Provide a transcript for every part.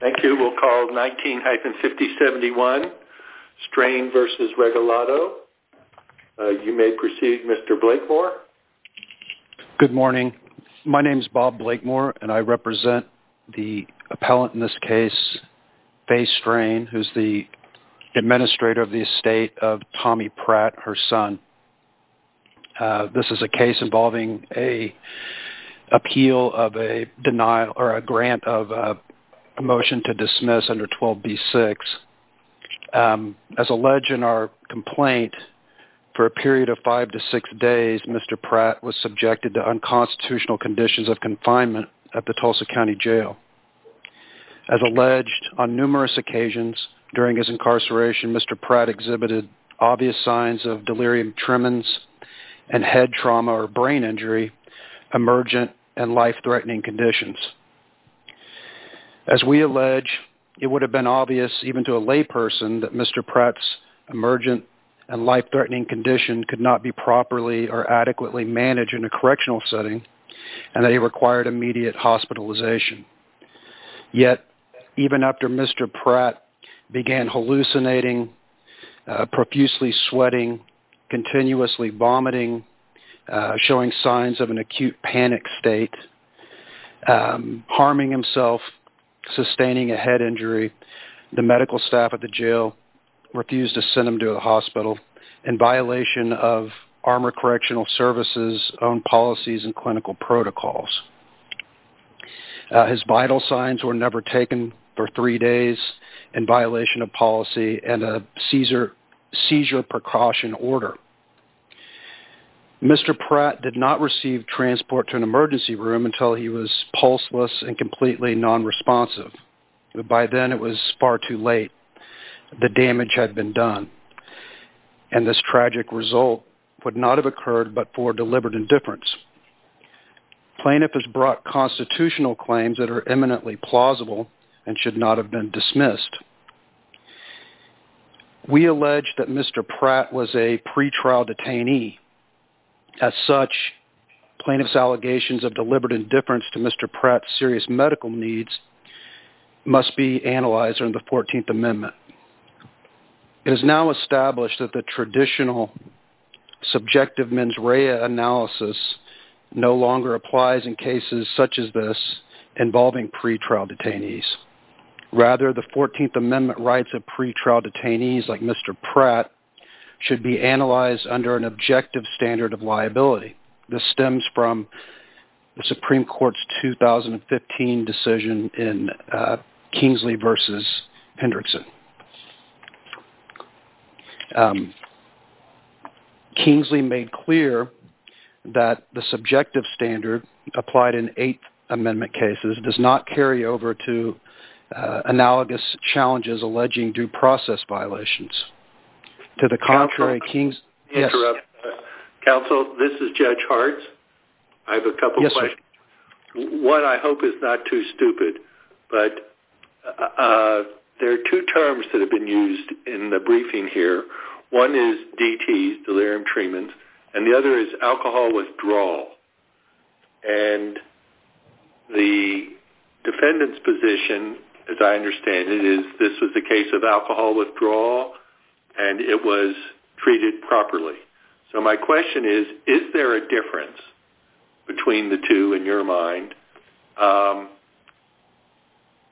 Thank you. We'll call 19-5071, Strain v. Regalado. You may proceed, Mr. Blakemore. Good morning. My name is Bob Blakemore and I represent the appellant in this case, Faye Strain, who's the administrator of the estate of Tommy Pratt, her son. This is a case involving an appeal of a denial or a grant of a motion to dismiss under 12b-6. As alleged in our complaint, for a period of five to six days, Mr. Pratt was subjected to unconstitutional conditions of confinement at the Tulsa County Jail. As alleged, on numerous occasions during his incarceration, Mr. Pratt suffered post-traumatic stress disorder injury, tremens, and head trauma or brain injury, emergent and life-threatening conditions. As we allege, it would have been obvious even to a layperson that Mr. Pratt's emergent and life-threatening condition could not be properly or adequately managed in a correctional setting and that he required immediate hospitalization. Yet, even after Mr. Pratt began hallucinating, profusely sweating, continuously vomiting, showing signs of an acute panic state, harming himself, sustaining a head injury, the medical staff at the jail refused to send him to a hospital in violation of Armor Correctional Service's own policies and clinical protocols. His vital signs were never taken for three days in violation of policy and a seizure precaution order. Mr. Pratt did not receive transport to an emergency room until he was pulseless and completely non-responsive. By then, it was far too late. The damage had been done and this tragic result would not have occurred but for deliberate indifference. Plaintiff has brought constitutional claims that are eminently plausible and should not have been dismissed. We allege that Mr. Pratt was a pretrial detainee. As such, plaintiff's allegations of deliberate indifference to Mr. Pratt's serious medical needs must be analyzed under the 14th Amendment. It is now established that the traditional subjective mens rea analysis no longer applies in cases such as this involving pretrial detainees. Rather, the 14th Amendment rights of pretrial detainees like Mr. Pratt should be analyzed under an objective standard of liability. This Kingsley made clear that the subjective standard applied in eighth amendment cases does not carry over to analogous challenges alleging due process violations. To the contrary, Kingsley, yes. Counsel, this is Judge Hart. I have a couple questions. One I hope is not too stupid but there are two terms that have been used for different treatments. The other is alcohol withdrawal. And the defendant's position, as I understand it, is this was a case of alcohol withdrawal and it was treated properly. So my question is, is there a difference between the two in your mind?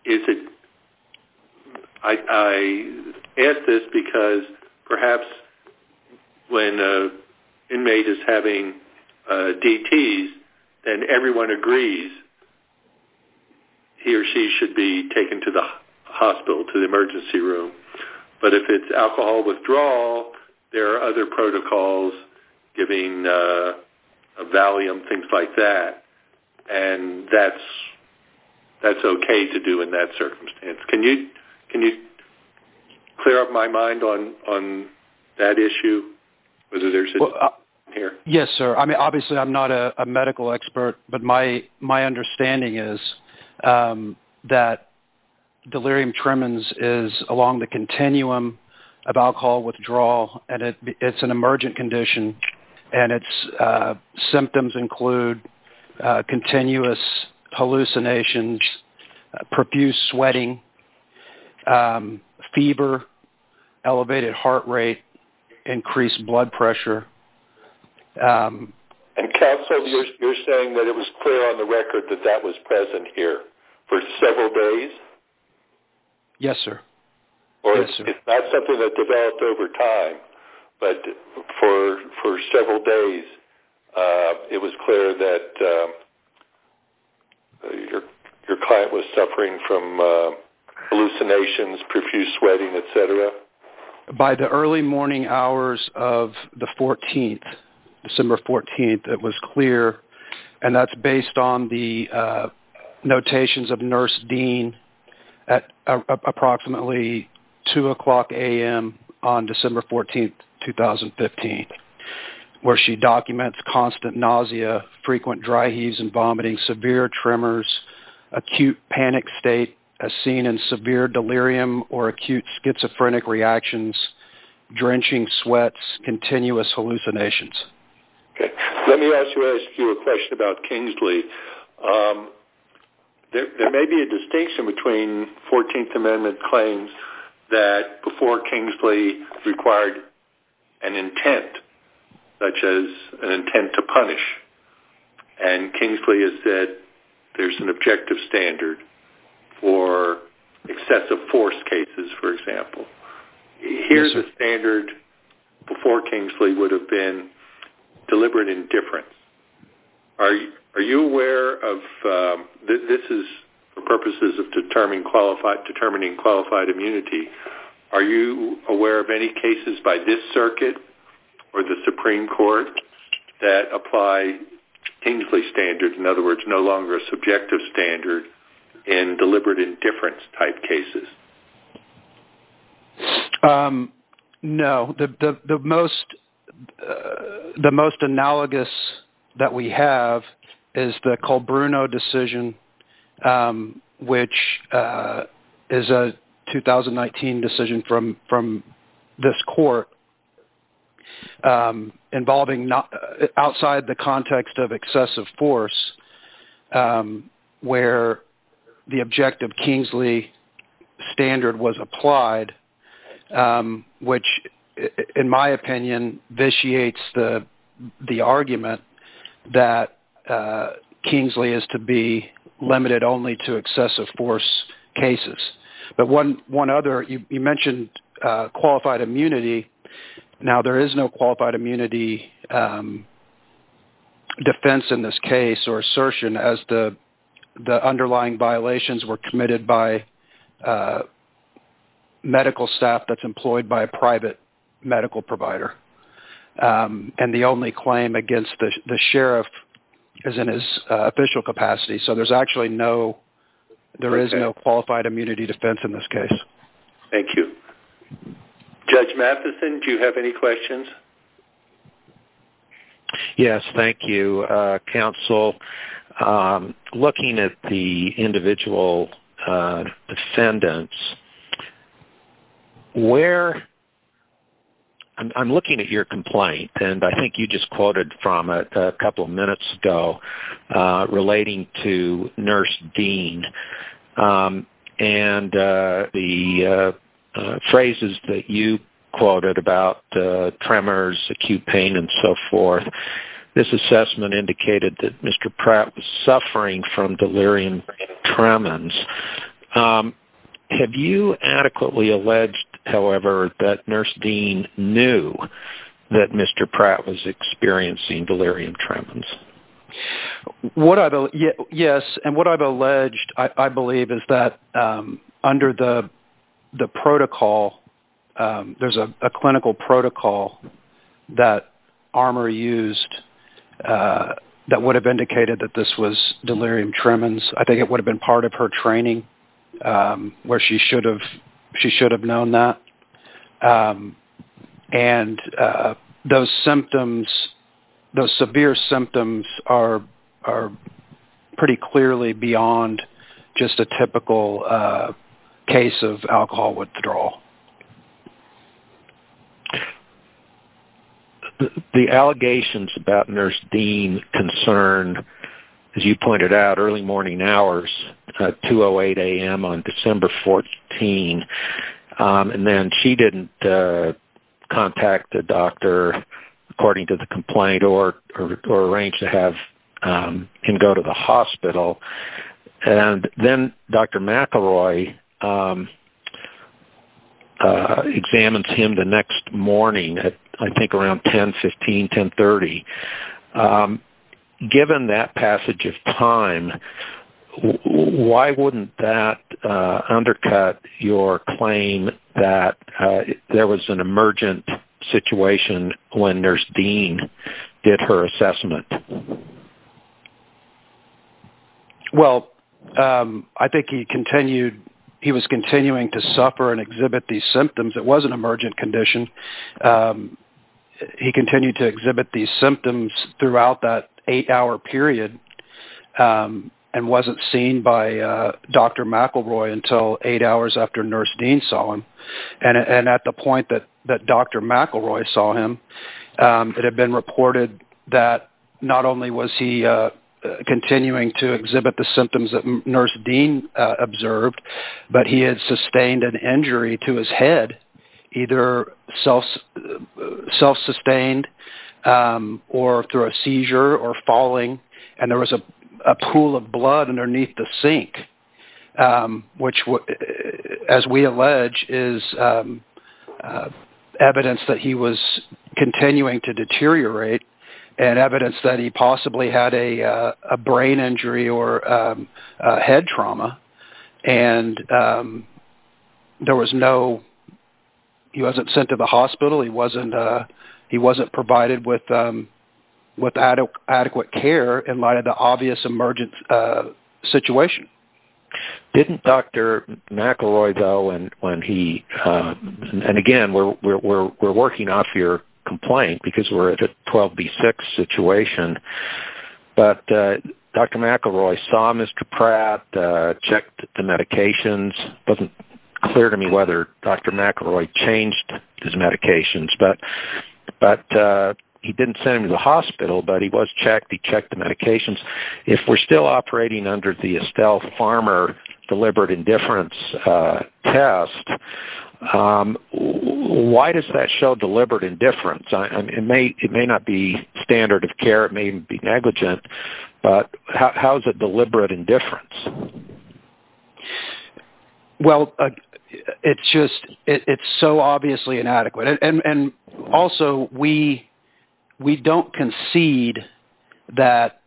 Is it I ask this because perhaps when an inmate is having DTs and everyone agrees, he or she should be taken to the hospital, to the emergency room. But if it's alcohol withdrawal, there are other protocols giving a valium, things like that. And that's okay to do in that circumstance. Can you clear up my mind on that issue? Yes, sir. I mean, obviously I'm not a medical expert, but my understanding is that delirium tremens is along the continuum of alcohol withdrawal and it's an emergent condition and its symptoms include continuous hallucinations, profuse sweating, fever, elevated heart rate, increased blood pressure. Counsel, you're saying that it was clear on the record that that was present here for several days? Yes, sir. Or it's not something that developed over time, but for several days it was clear that your client was suffering from hallucinations, profuse sweating, etc.? By the early morning hours of the 14th, December 14th, it was clear. And that's based on the notations of Nurse Dean at approximately 2 o'clock a.m. on December 14th, 2015, where she documents constant nausea, frequent dry heaves and vomiting, severe tremors, acute panic state as seen in severe delirium or acute schizophrenic reactions, drenching sweats, continuous hallucinations. Let me ask you a question about Kingsley. There may be a distinction between 14th Amendment claims that before Kingsley required an intent, such as an intent to punish, and Kingsley has said there's an objective standard for excessive force cases, for example. Here's a standard before Kingsley would have been deliberate indifference. Are you aware of, this is for purposes of determining qualified immunity, are you aware of any cases by this circuit or the Supreme Court that apply Kingsley standard, in other words, no longer a subjective standard in deliberate indifference type cases? No. The most analogous that we have is the Colbruno decision, which is a 2019 decision from this court involving outside the context of excessive force, where the objective Kingsley standard was applied, which in my opinion vitiates the argument that Kingsley is to be limited only to excessive force cases. But one other, you mentioned qualified immunity, now there is no qualified immunity defense in this case or assertion as the underlying violations were committed by medical staff that's employed by a private medical provider, and the only claim against the sheriff is in his official capacity. So there's actually no, there Judge Matheson, do you have any questions? Yes, thank you, counsel. Looking at the individual ascendants, where, I'm looking at your complaint and I think you just quoted about tremors, acute pain, and so forth, this assessment indicated that Mr. Pratt was suffering from delirium tremens. Have you adequately alleged, however, that Nurse Dean knew that Mr. Pratt was experiencing delirium tremens? Yes, and what I've alleged, I believe, is that under the protocol there's a clinical protocol that Armour used that would have indicated that this was delirium tremens. I think it would have been part of her training where she should have, she should have known that. And those symptoms, those severe symptoms are pretty clearly beyond just a typical case of alcohol withdrawal. The allegations about Nurse Dean concerned, as you pointed out, early morning hours, 2 o'clock a.m. on December 14th, and then she didn't contact the doctor according to the complaint or arrange to have him go to the hospital. And then Dr. McElroy examines him the next morning at, I think, around 10, 15, 10.30. Given that passage of time, why wouldn't that undercut your claim that there was an emergent situation when Nurse Dean did her assessment? Well, I think he continued, he was continuing to suffer and exhibit these symptoms. It was an emergent condition. He continued to exhibit these symptoms throughout that eight-hour period and wasn't seen by Dr. McElroy until eight o'clock at the point that Dr. McElroy saw him. It had been reported that not only was he continuing to exhibit the symptoms that Nurse Dean observed, but he had sustained an injury to his head, either self-sustained or through a seizure or falling. And there was a pool of blood underneath the sink, which, as we allege, is evidence that he was continuing to deteriorate and evidence that he possibly had a brain injury or head trauma. And there was no, he wasn't sent to the hospital, he wasn't provided with adequate care in light of the obvious emergent situation. Didn't Dr. McElroy, though, and again, we're working off your complaint because we're at a 12B6 situation, but Dr. McElroy saw Mr. Pratt, checked the medications. It wasn't clear to me whether Dr. McElroy changed his medications, but he didn't send him to the hospital, but he was checked, he was given a farmer deliberate indifference test. Why does that show deliberate indifference? It may not be standard of care, it may be negligent, but how is it deliberate indifference? Well, it's just, it's so obviously inadequate. And also, we don't concede that,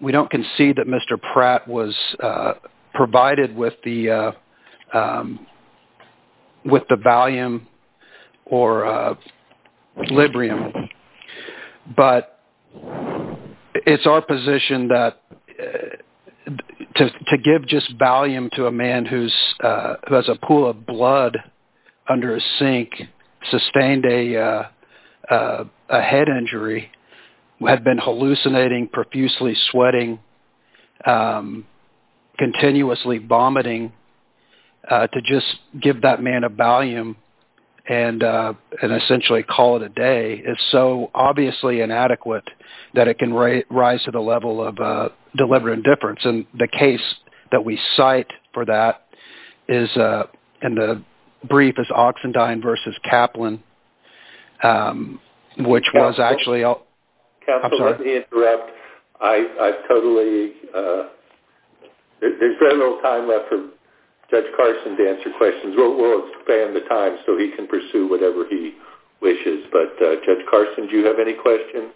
we don't concede that Mr. Pratt was provided with the Valium or Librium, but it's our position that to give just Valium to a man who has a pool of blood under a sink, sustained a head injury, had been hallucinating, profusely sweating, continuously vomiting, to just give that man a Valium and essentially call it a day, it's so obviously inadequate that it can rise to the level of deliberate indifference. And the case that we cite for that is, and the brief is Oxendine versus Kaplan, which was actually... Counselor, let me interrupt. I've totally... There's very little time left for Judge Carson to answer questions. We'll expand the time so he can pursue whatever he wishes, but Judge Carson, do you have any questions?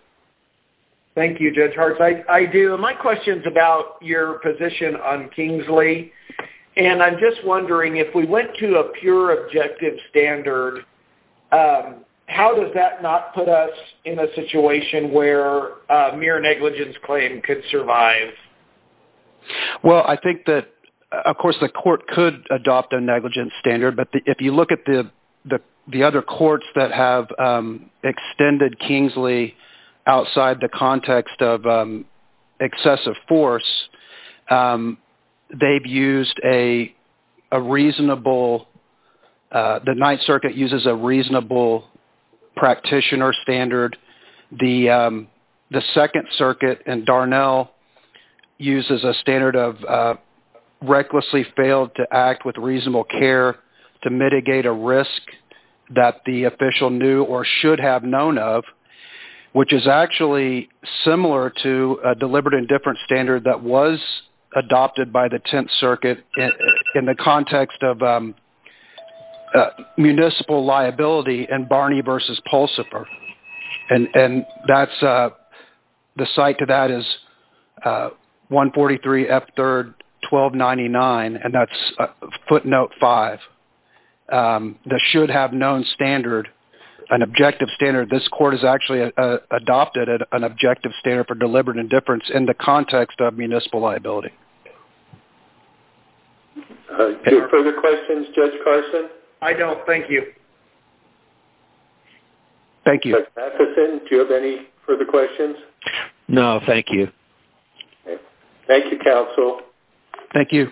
Thank you, Judge Hartz. I do. My question's about your position on Kingsley, and I'm just wondering, if we went to a pure objective standard, how does that not put us in a situation where a mere negligence claim could survive? Well, I think that, of course, the court could adopt a negligence standard, but if you look at the other courts that have used a reasonable... The Ninth Circuit uses a reasonable practitioner standard, the Second Circuit and Darnell uses a standard of recklessly failed to act with reasonable care to mitigate a risk that the official knew or should have known of, which is actually similar to a deliberate indifference standard that was adopted by the Tenth Circuit in the context of municipal liability in Barney versus Pulsifer, and that's... The site to that is 143 F 3rd 1299, and that's footnote five. The should have known standard, an objective standard, this court has actually adopted an objective standard for deliberate indifference in the context of municipal liability. Do you have further questions, Judge Carson? I don't, thank you. Thank you. Judge Matheson, do you have any further questions? No, thank you. Thank you, counsel. Thank you.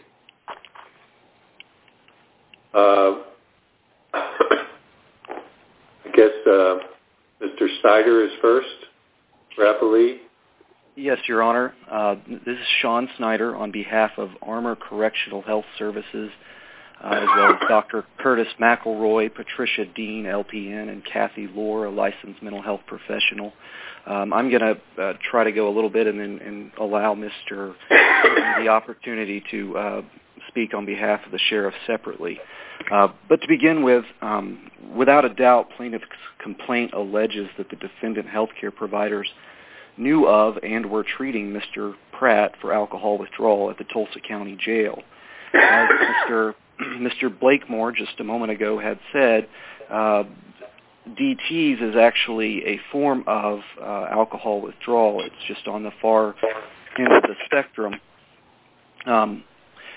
I guess Mr. Snyder is first, rapidly. Yes, Your Honor. This is Sean Snyder on behalf of Armor Correctional Health Services, as well as Dr. Curtis McElroy, Patricia Dean, LPN, and Kathy Lohr, a licensed mental health professional. I'm gonna try to go a little bit and allow Mr. Snyder the opportunity to speak on behalf of the sheriff separately. But to begin with, without a doubt, plaintiff's complaint alleges that the defendant health care providers knew of and were treating Mr. Pratt for alcohol withdrawal at the Tulsa County Jail. As Mr. Blakemore just a moment ago had said, DT's is actually a form of alcohol withdrawal. It's just on the far end of the spectrum.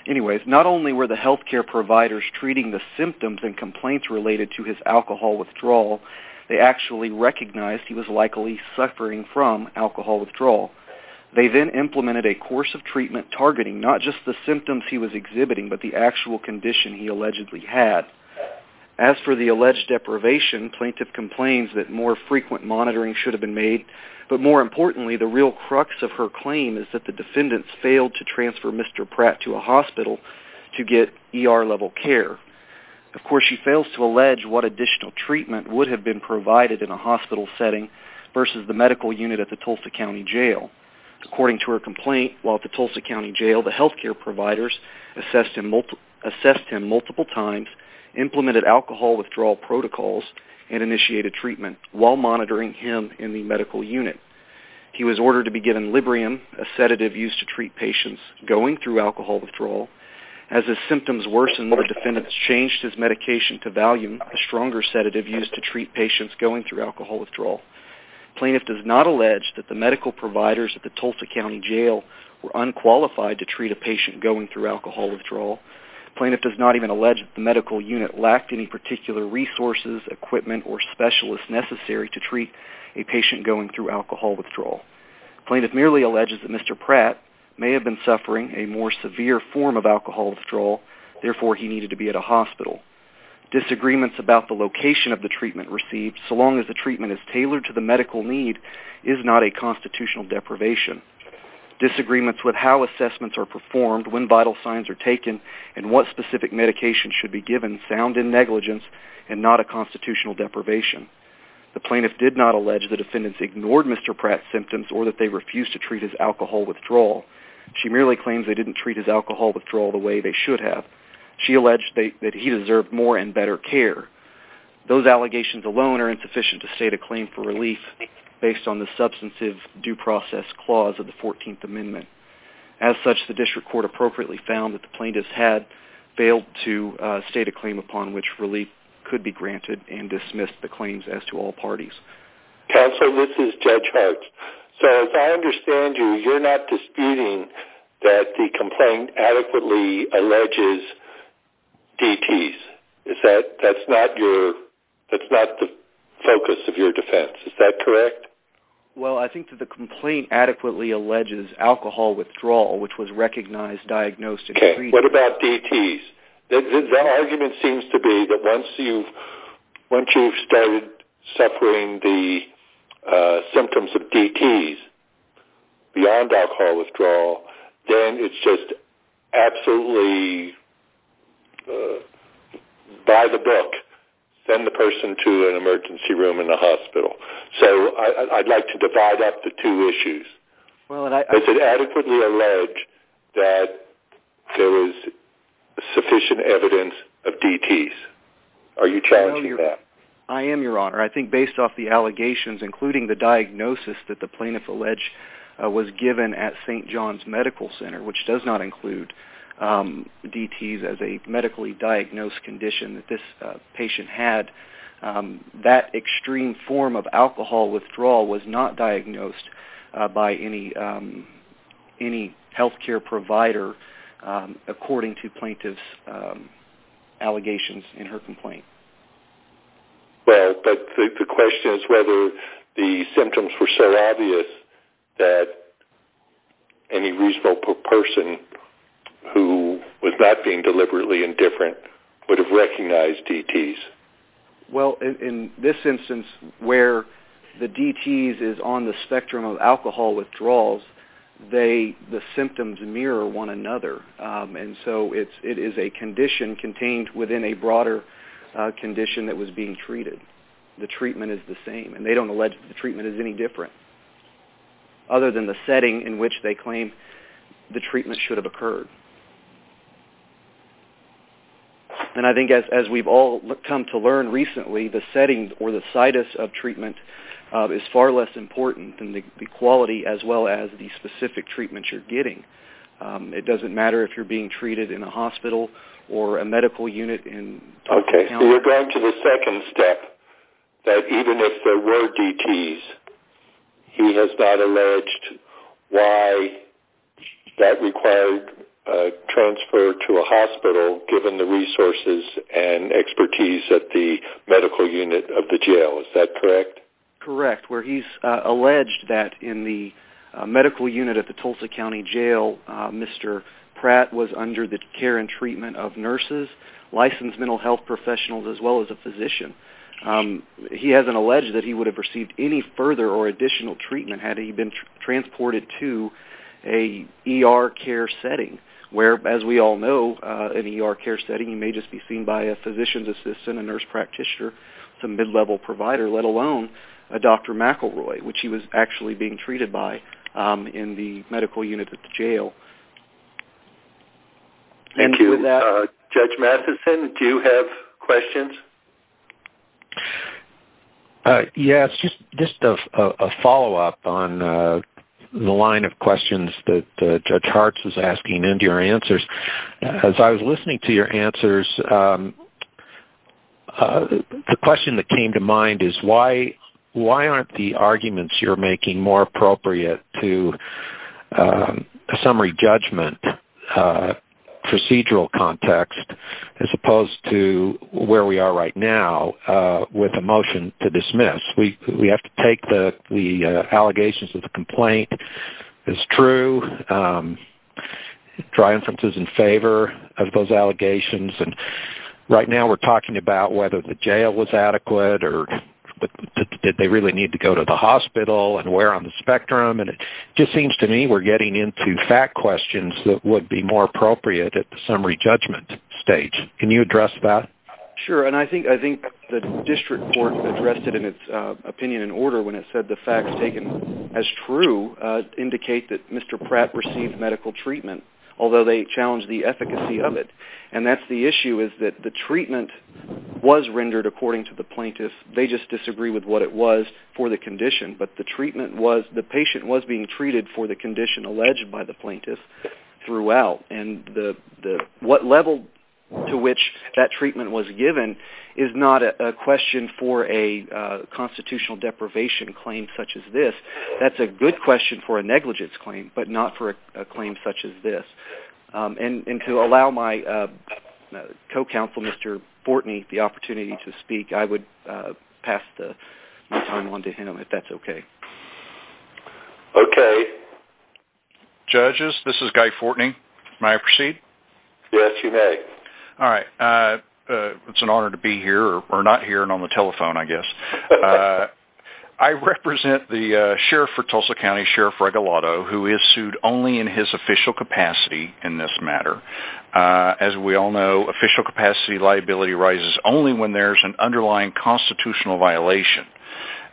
Anyways, not only were the health care providers treating the symptoms and complaints related to his alcohol withdrawal, they actually recognized he was likely suffering from alcohol withdrawal. They then implemented a course of treatment targeting not just the symptoms he was exhibiting, but the actual condition he allegedly had. As for the alleged deprivation, plaintiff complains that more frequent monitoring should have been made. But more importantly, the real crux of her claim is that the defendants failed to transfer Mr. Pratt to a hospital to get ER level care. Of course, she fails to allege what additional treatment would have been provided in a hospital setting versus the medical unit at the Tulsa County Jail. According to her complaint, while at the Tulsa County Jail, the health care providers assessed him multiple times, implemented alcohol withdrawal protocols, and initiated treatment while monitoring him in the medical unit. He was ordered to be given Librium, a sedative used to treat patients going through alcohol withdrawal. As his symptoms worsened, the defendants changed his medication to Valium, a stronger sedative used to treat patients going through alcohol withdrawal. Plaintiff does not allege that the medical providers at the Tulsa County Jail were unqualified to treat a patient going through alcohol withdrawal. Plaintiff does not even allege that the resources, equipment, or specialists necessary to treat a patient going through alcohol withdrawal. Plaintiff merely alleges that Mr. Pratt may have been suffering a more severe form of alcohol withdrawal, therefore he needed to be at a hospital. Disagreements about the location of the treatment received, so long as the treatment is tailored to the medical need, is not a constitutional deprivation. Disagreements with how assessments are performed, when vital signs are taken, and what specific medication should be given sound in and not a constitutional deprivation. The plaintiff did not allege the defendants ignored Mr. Pratt's symptoms or that they refused to treat his alcohol withdrawal. She merely claims they didn't treat his alcohol withdrawal the way they should have. She alleged that he deserved more and better care. Those allegations alone are insufficient to state a claim for relief based on the substantive due process clause of the 14th Amendment. As such, the district upon which relief could be granted and dismissed the claims as to all parties. Counselor, this is Judge Hart. So, as I understand you, you're not disputing that the complaint adequately alleges DTs. Is that, that's not your, that's not the focus of your defense. Is that correct? Well, I think that the complaint adequately alleges alcohol withdrawal, which was recognized, diagnosed, and agreed to. What about DTs? The argument seems to be that once you've, once you've started suffering the symptoms of DTs beyond alcohol withdrawal, then it's just absolutely, by the book, send the person to an emergency room in the hospital. So, I'd like to divide up the two issues. Well, and I... Does it adequately allege that there is sufficient evidence of DTs? Are you challenging that? I am, Your Honor. I think based off the allegations, including the diagnosis that the plaintiff alleged was given at St. John's Medical Center, which does not include DTs as a medically diagnosed condition that this patient had, that extreme form of alcohol withdrawal was not possible to occur, according to plaintiff's allegations in her complaint. Well, but the question is whether the symptoms were so obvious that any reasonable person who was not being deliberately indifferent would have recognized DTs. Well, in this instance where the DTs is on the spectrum of one another, and so it is a condition contained within a broader condition that was being treated. The treatment is the same, and they don't allege the treatment is any different, other than the setting in which they claim the treatment should have occurred. And I think as we've all come to learn recently, the setting or the situs of treatment is far less important than the quality as well as the specific treatments you're getting. It doesn't matter if you're being treated in a hospital or a medical unit. Okay, so you're going to the second step, that even if there were DTs, he has not alleged why that required transfer to a hospital given the resources and expertise at the hospital. In the medical unit at the Tulsa County Jail, Mr. Pratt was under the care and treatment of nurses, licensed mental health professionals, as well as a physician. He hasn't alleged that he would have received any further or additional treatment had he been transported to an ER care setting, where as we all know, an ER care setting may just be seen by a physician's assistant, a nurse practitioner, some mid-level provider, let alone a Dr. McElroy, which he was actually being treated by in the medical unit at the jail. And with that... Judge Matheson, do you have questions? Yes, just a follow-up on the line of questions that Judge Hartz is asking and your answers. As I was listening to your arguments, you're making more appropriate to a summary judgment procedural context, as opposed to where we are right now with a motion to dismiss. We have to take the allegations of the complaint as true, try inferences in favor of those allegations, and right now we're talking about whether the jail was adequate, or did they really need to go to the hospital, and where on the spectrum, and it just seems to me we're getting into fact questions that would be more appropriate at the summary judgment stage. Can you address that? Sure, and I think the district court addressed it in its opinion and order when it said the facts taken as true indicate that Mr. Pratt received medical treatment, although they challenged the efficacy of it. And that's the issue, is that the treatment was rendered according to the plaintiff. They just disagree with what it was for the condition, but the treatment was, the patient was being treated for the condition alleged by the plaintiff throughout, and what level to which that treatment was given is not a question for a constitutional deprivation claim such as this. That's a good question for a negligence claim, but not for a claim such as this. And to allow my co-counsel, Mr. Fortney, the opportunity to speak, I would pass the time on to him if that's okay. Okay. Judges, this is Guy Fortney. May I proceed? Yes, you may. All right. It's an honor to be here, or not here, and on the telephone, I guess. I represent the sheriff for Tulsa County, Sheriff Greg Olotto, who is sued only in his official capacity in this matter. As we all know, official capacity liability rises only when there's an underlying constitutional violation.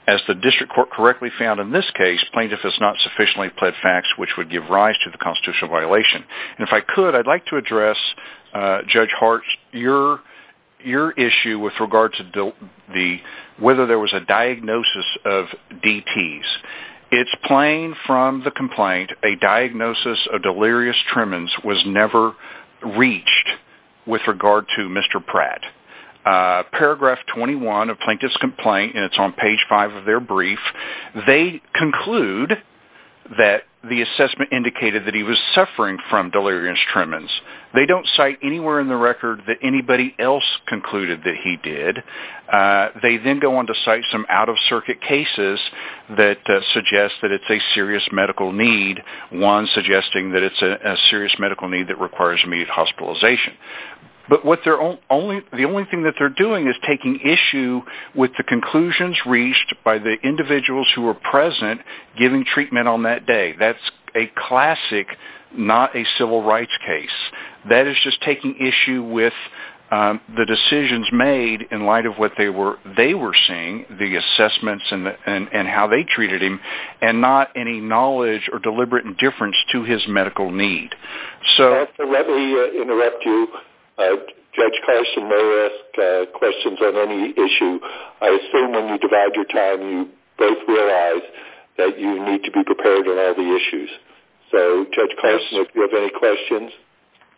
As the district court correctly found in this case, plaintiff has not sufficiently pled facts which would give rise to the constitutional violation. And if I could, I'd like to address Judge Hart's, your your issue with regard to the, whether there was a diagnosis of DTs. It's plain from the complaint, a diagnosis of delirious tremens was never reached with regard to Mr. Pratt. Paragraph 21 of Plaintiff's complaint, and it's on page 5 of their brief, they conclude that the assessment indicated that he was suffering from delirious tremens. They don't cite anywhere in the record that anybody else concluded that he did. They then go on to cite some out-of-circuit cases that suggest that it's a serious medical need, one suggesting that it's a serious medical need that requires immediate hospitalization. But what they're only, the only thing that they're doing is taking issue with the conclusions reached by the individuals who were present giving treatment on that day. That's a classic, not a civil rights case. That is just taking issue with the decisions made in light of what they were, they were seeing, the assessments and how they treated him, and not any knowledge or deliberate indifference to his medical need. So, let me interrupt you. Judge Carson may ask questions on any issue. I assume when you divide your time, you both realize that you need to be prepared on all the issues. So, Judge Carson, if you have any questions.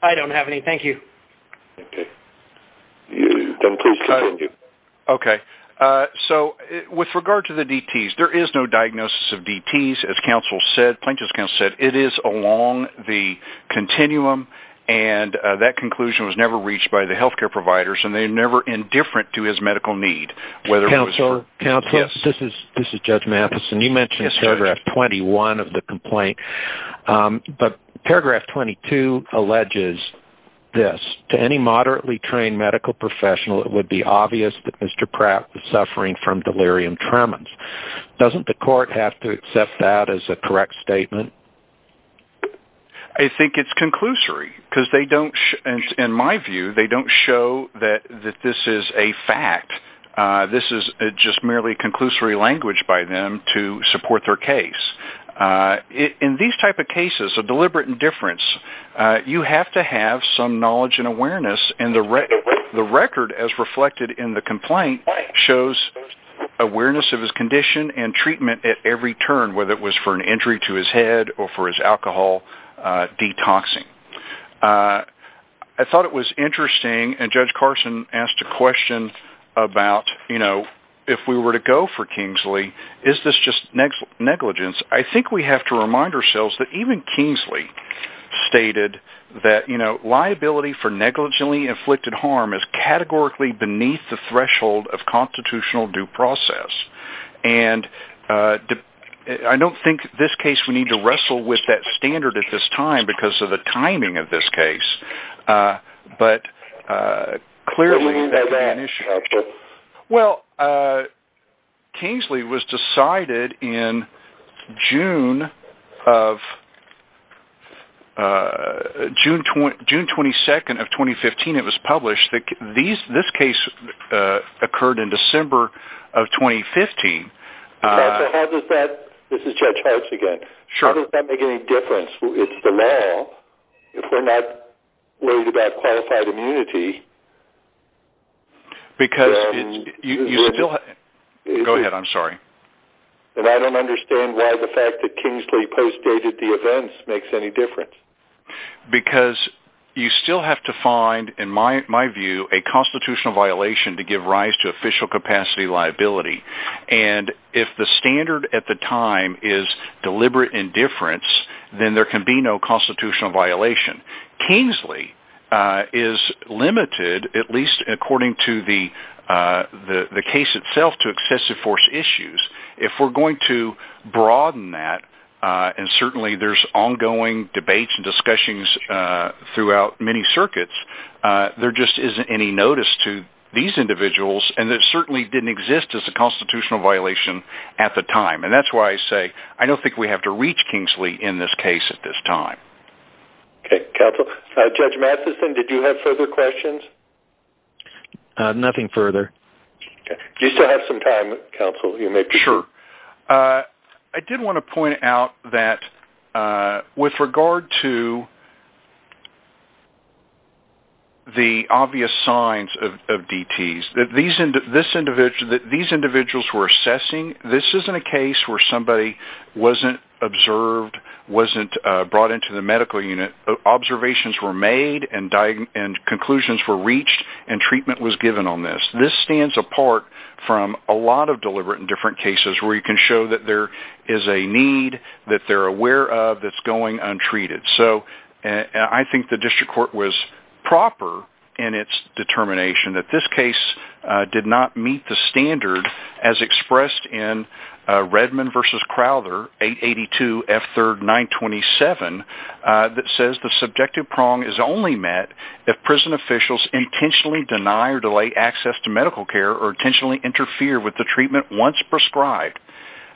I don't have any. Thank you. Okay. So, with regard to the DTs, there is no diagnosis of DTs. As counsel said, plaintiff's counsel said, it is along the continuum, and that conclusion was never reached by the healthcare providers, and they were never indifferent to his medical need, whether it was for counsel. Counsel, this is Judge Mathison. You mentioned paragraph 21 of the complaint, but paragraph 22 alleges this, to any moderately trained medical professional, it would be obvious that Mr. Pratt was suffering from delirium tremens. Doesn't the court have to accept that as a correct statement? I think it's conclusory, because they don't, in my view, they don't show that this is a fact. This is just merely conclusory language by them to support their case. In these type of cases of deliberate indifference, you have to have some knowledge and awareness. And the record, as reflected in the complaint, shows awareness of his condition and treatment at every turn, whether it was for an injury to his head or for his alcohol detoxing. I thought it was interesting, and Judge Carson asked a question about if we were to go for Kingsley, is this just negligence? I think we have to remind ourselves that even Kingsley stated that liability for negligently inflicted harm is categorically beneath the threshold of constitutional due process. I don't think in this case we need to wrestle with that standard at this time because of the timing of this case. Well, Kingsley was decided in June 22nd of 2015, it was published, that this case occurred in December of 2015. How does that make any difference? It's the law. If we're not worried about qualified immunity, then I don't understand why the fact that Kingsley postdated the events makes any difference. Because you still have to find, in my view, a constitutional violation to give rise to official capacity liability. And if the standard at the time is deliberate indifference, then there can be no constitutional violation. Kingsley is limited, at least according to the case itself, to excessive force issues. If we're going to broaden that, and certainly there's ongoing debates and discussions throughout many circuits, there just isn't any notice to these individuals, and it certainly didn't exist as a constitutional violation at the time. And that's why I say I don't think we have to reach Kingsley in this case at this time. Okay, counsel. Judge Matheson, did you have further questions? Nothing further. Do you still have some time, counsel? Sure. I did want to point out that with regard to the obvious signs of DTs, that these individuals were assessing. This isn't a case where somebody wasn't observed, wasn't brought into the medical unit. Observations were made, and conclusions were reached, and treatment was given on this. This stands apart from a lot of deliberate indifference cases where you can show that there is a need that they're aware of that's going untreated. So I think the district court was proper in its determination that this case did not meet the standard as expressed in Redmond v. Crowther, 882 F. 3rd 927, that says the subjective prong is only met if prison officials intentionally deny or delay access to medical care or intentionally interfere with the treatment once prescribed.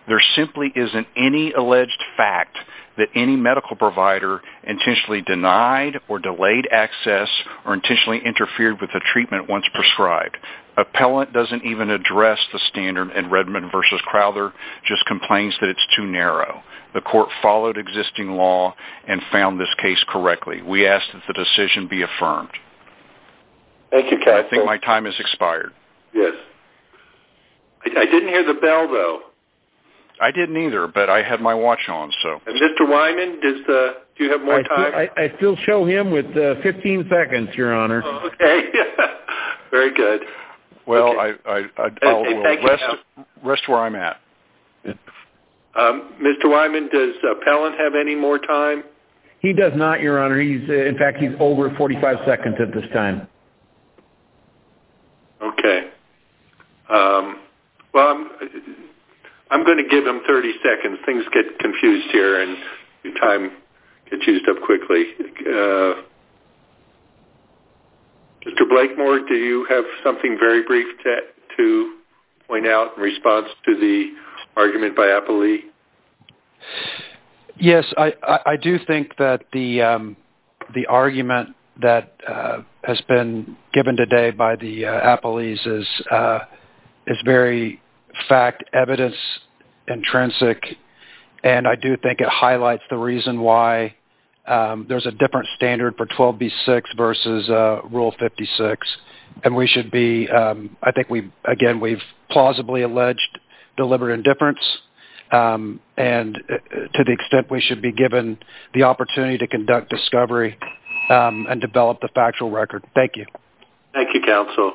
There simply isn't any alleged fact that any medical provider intentionally denied or delayed access or intentionally interfered with the treatment once prescribed. Appellant doesn't even address the standard in Redmond v. Crowther, just complains that it's too narrow. The court followed existing law and found this case correctly. We ask that the decision be affirmed. Thank you, counsel. I think my time has expired. Yes. I didn't hear the bell, though. I didn't either, but I had my watch on, so... And Mr. Wyman, do you have more time? I still show him with 15 seconds, Your Honor. Oh, okay. Very good. Well, I'll rest where I'm at. Mr. Wyman, does Appellant have any more time? He does not, Your Honor. In fact, he's over 45 seconds at this time. Okay. Well, I'm going to give him 30 seconds. Things get confused here, and time gets used up quickly. Mr. Blakemore, do you have something very brief to point out in response to the argument by Appellee? Yes. I do think that the argument that has been given today by the Appellees is very fact, evidence, intrinsic. And I do think it highlights the reason why there's a different standard for 12B6 versus Rule 56. And we should be... I think, again, we've plausibly alleged deliberate indifference. And to the extent we should be given the opportunity to conduct discovery and develop the factual record. Thank you. Thank you, Counsel.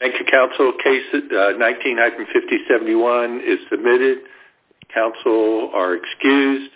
Thank you, Counsel. Case 1950-71 is submitted. Counsel are excused.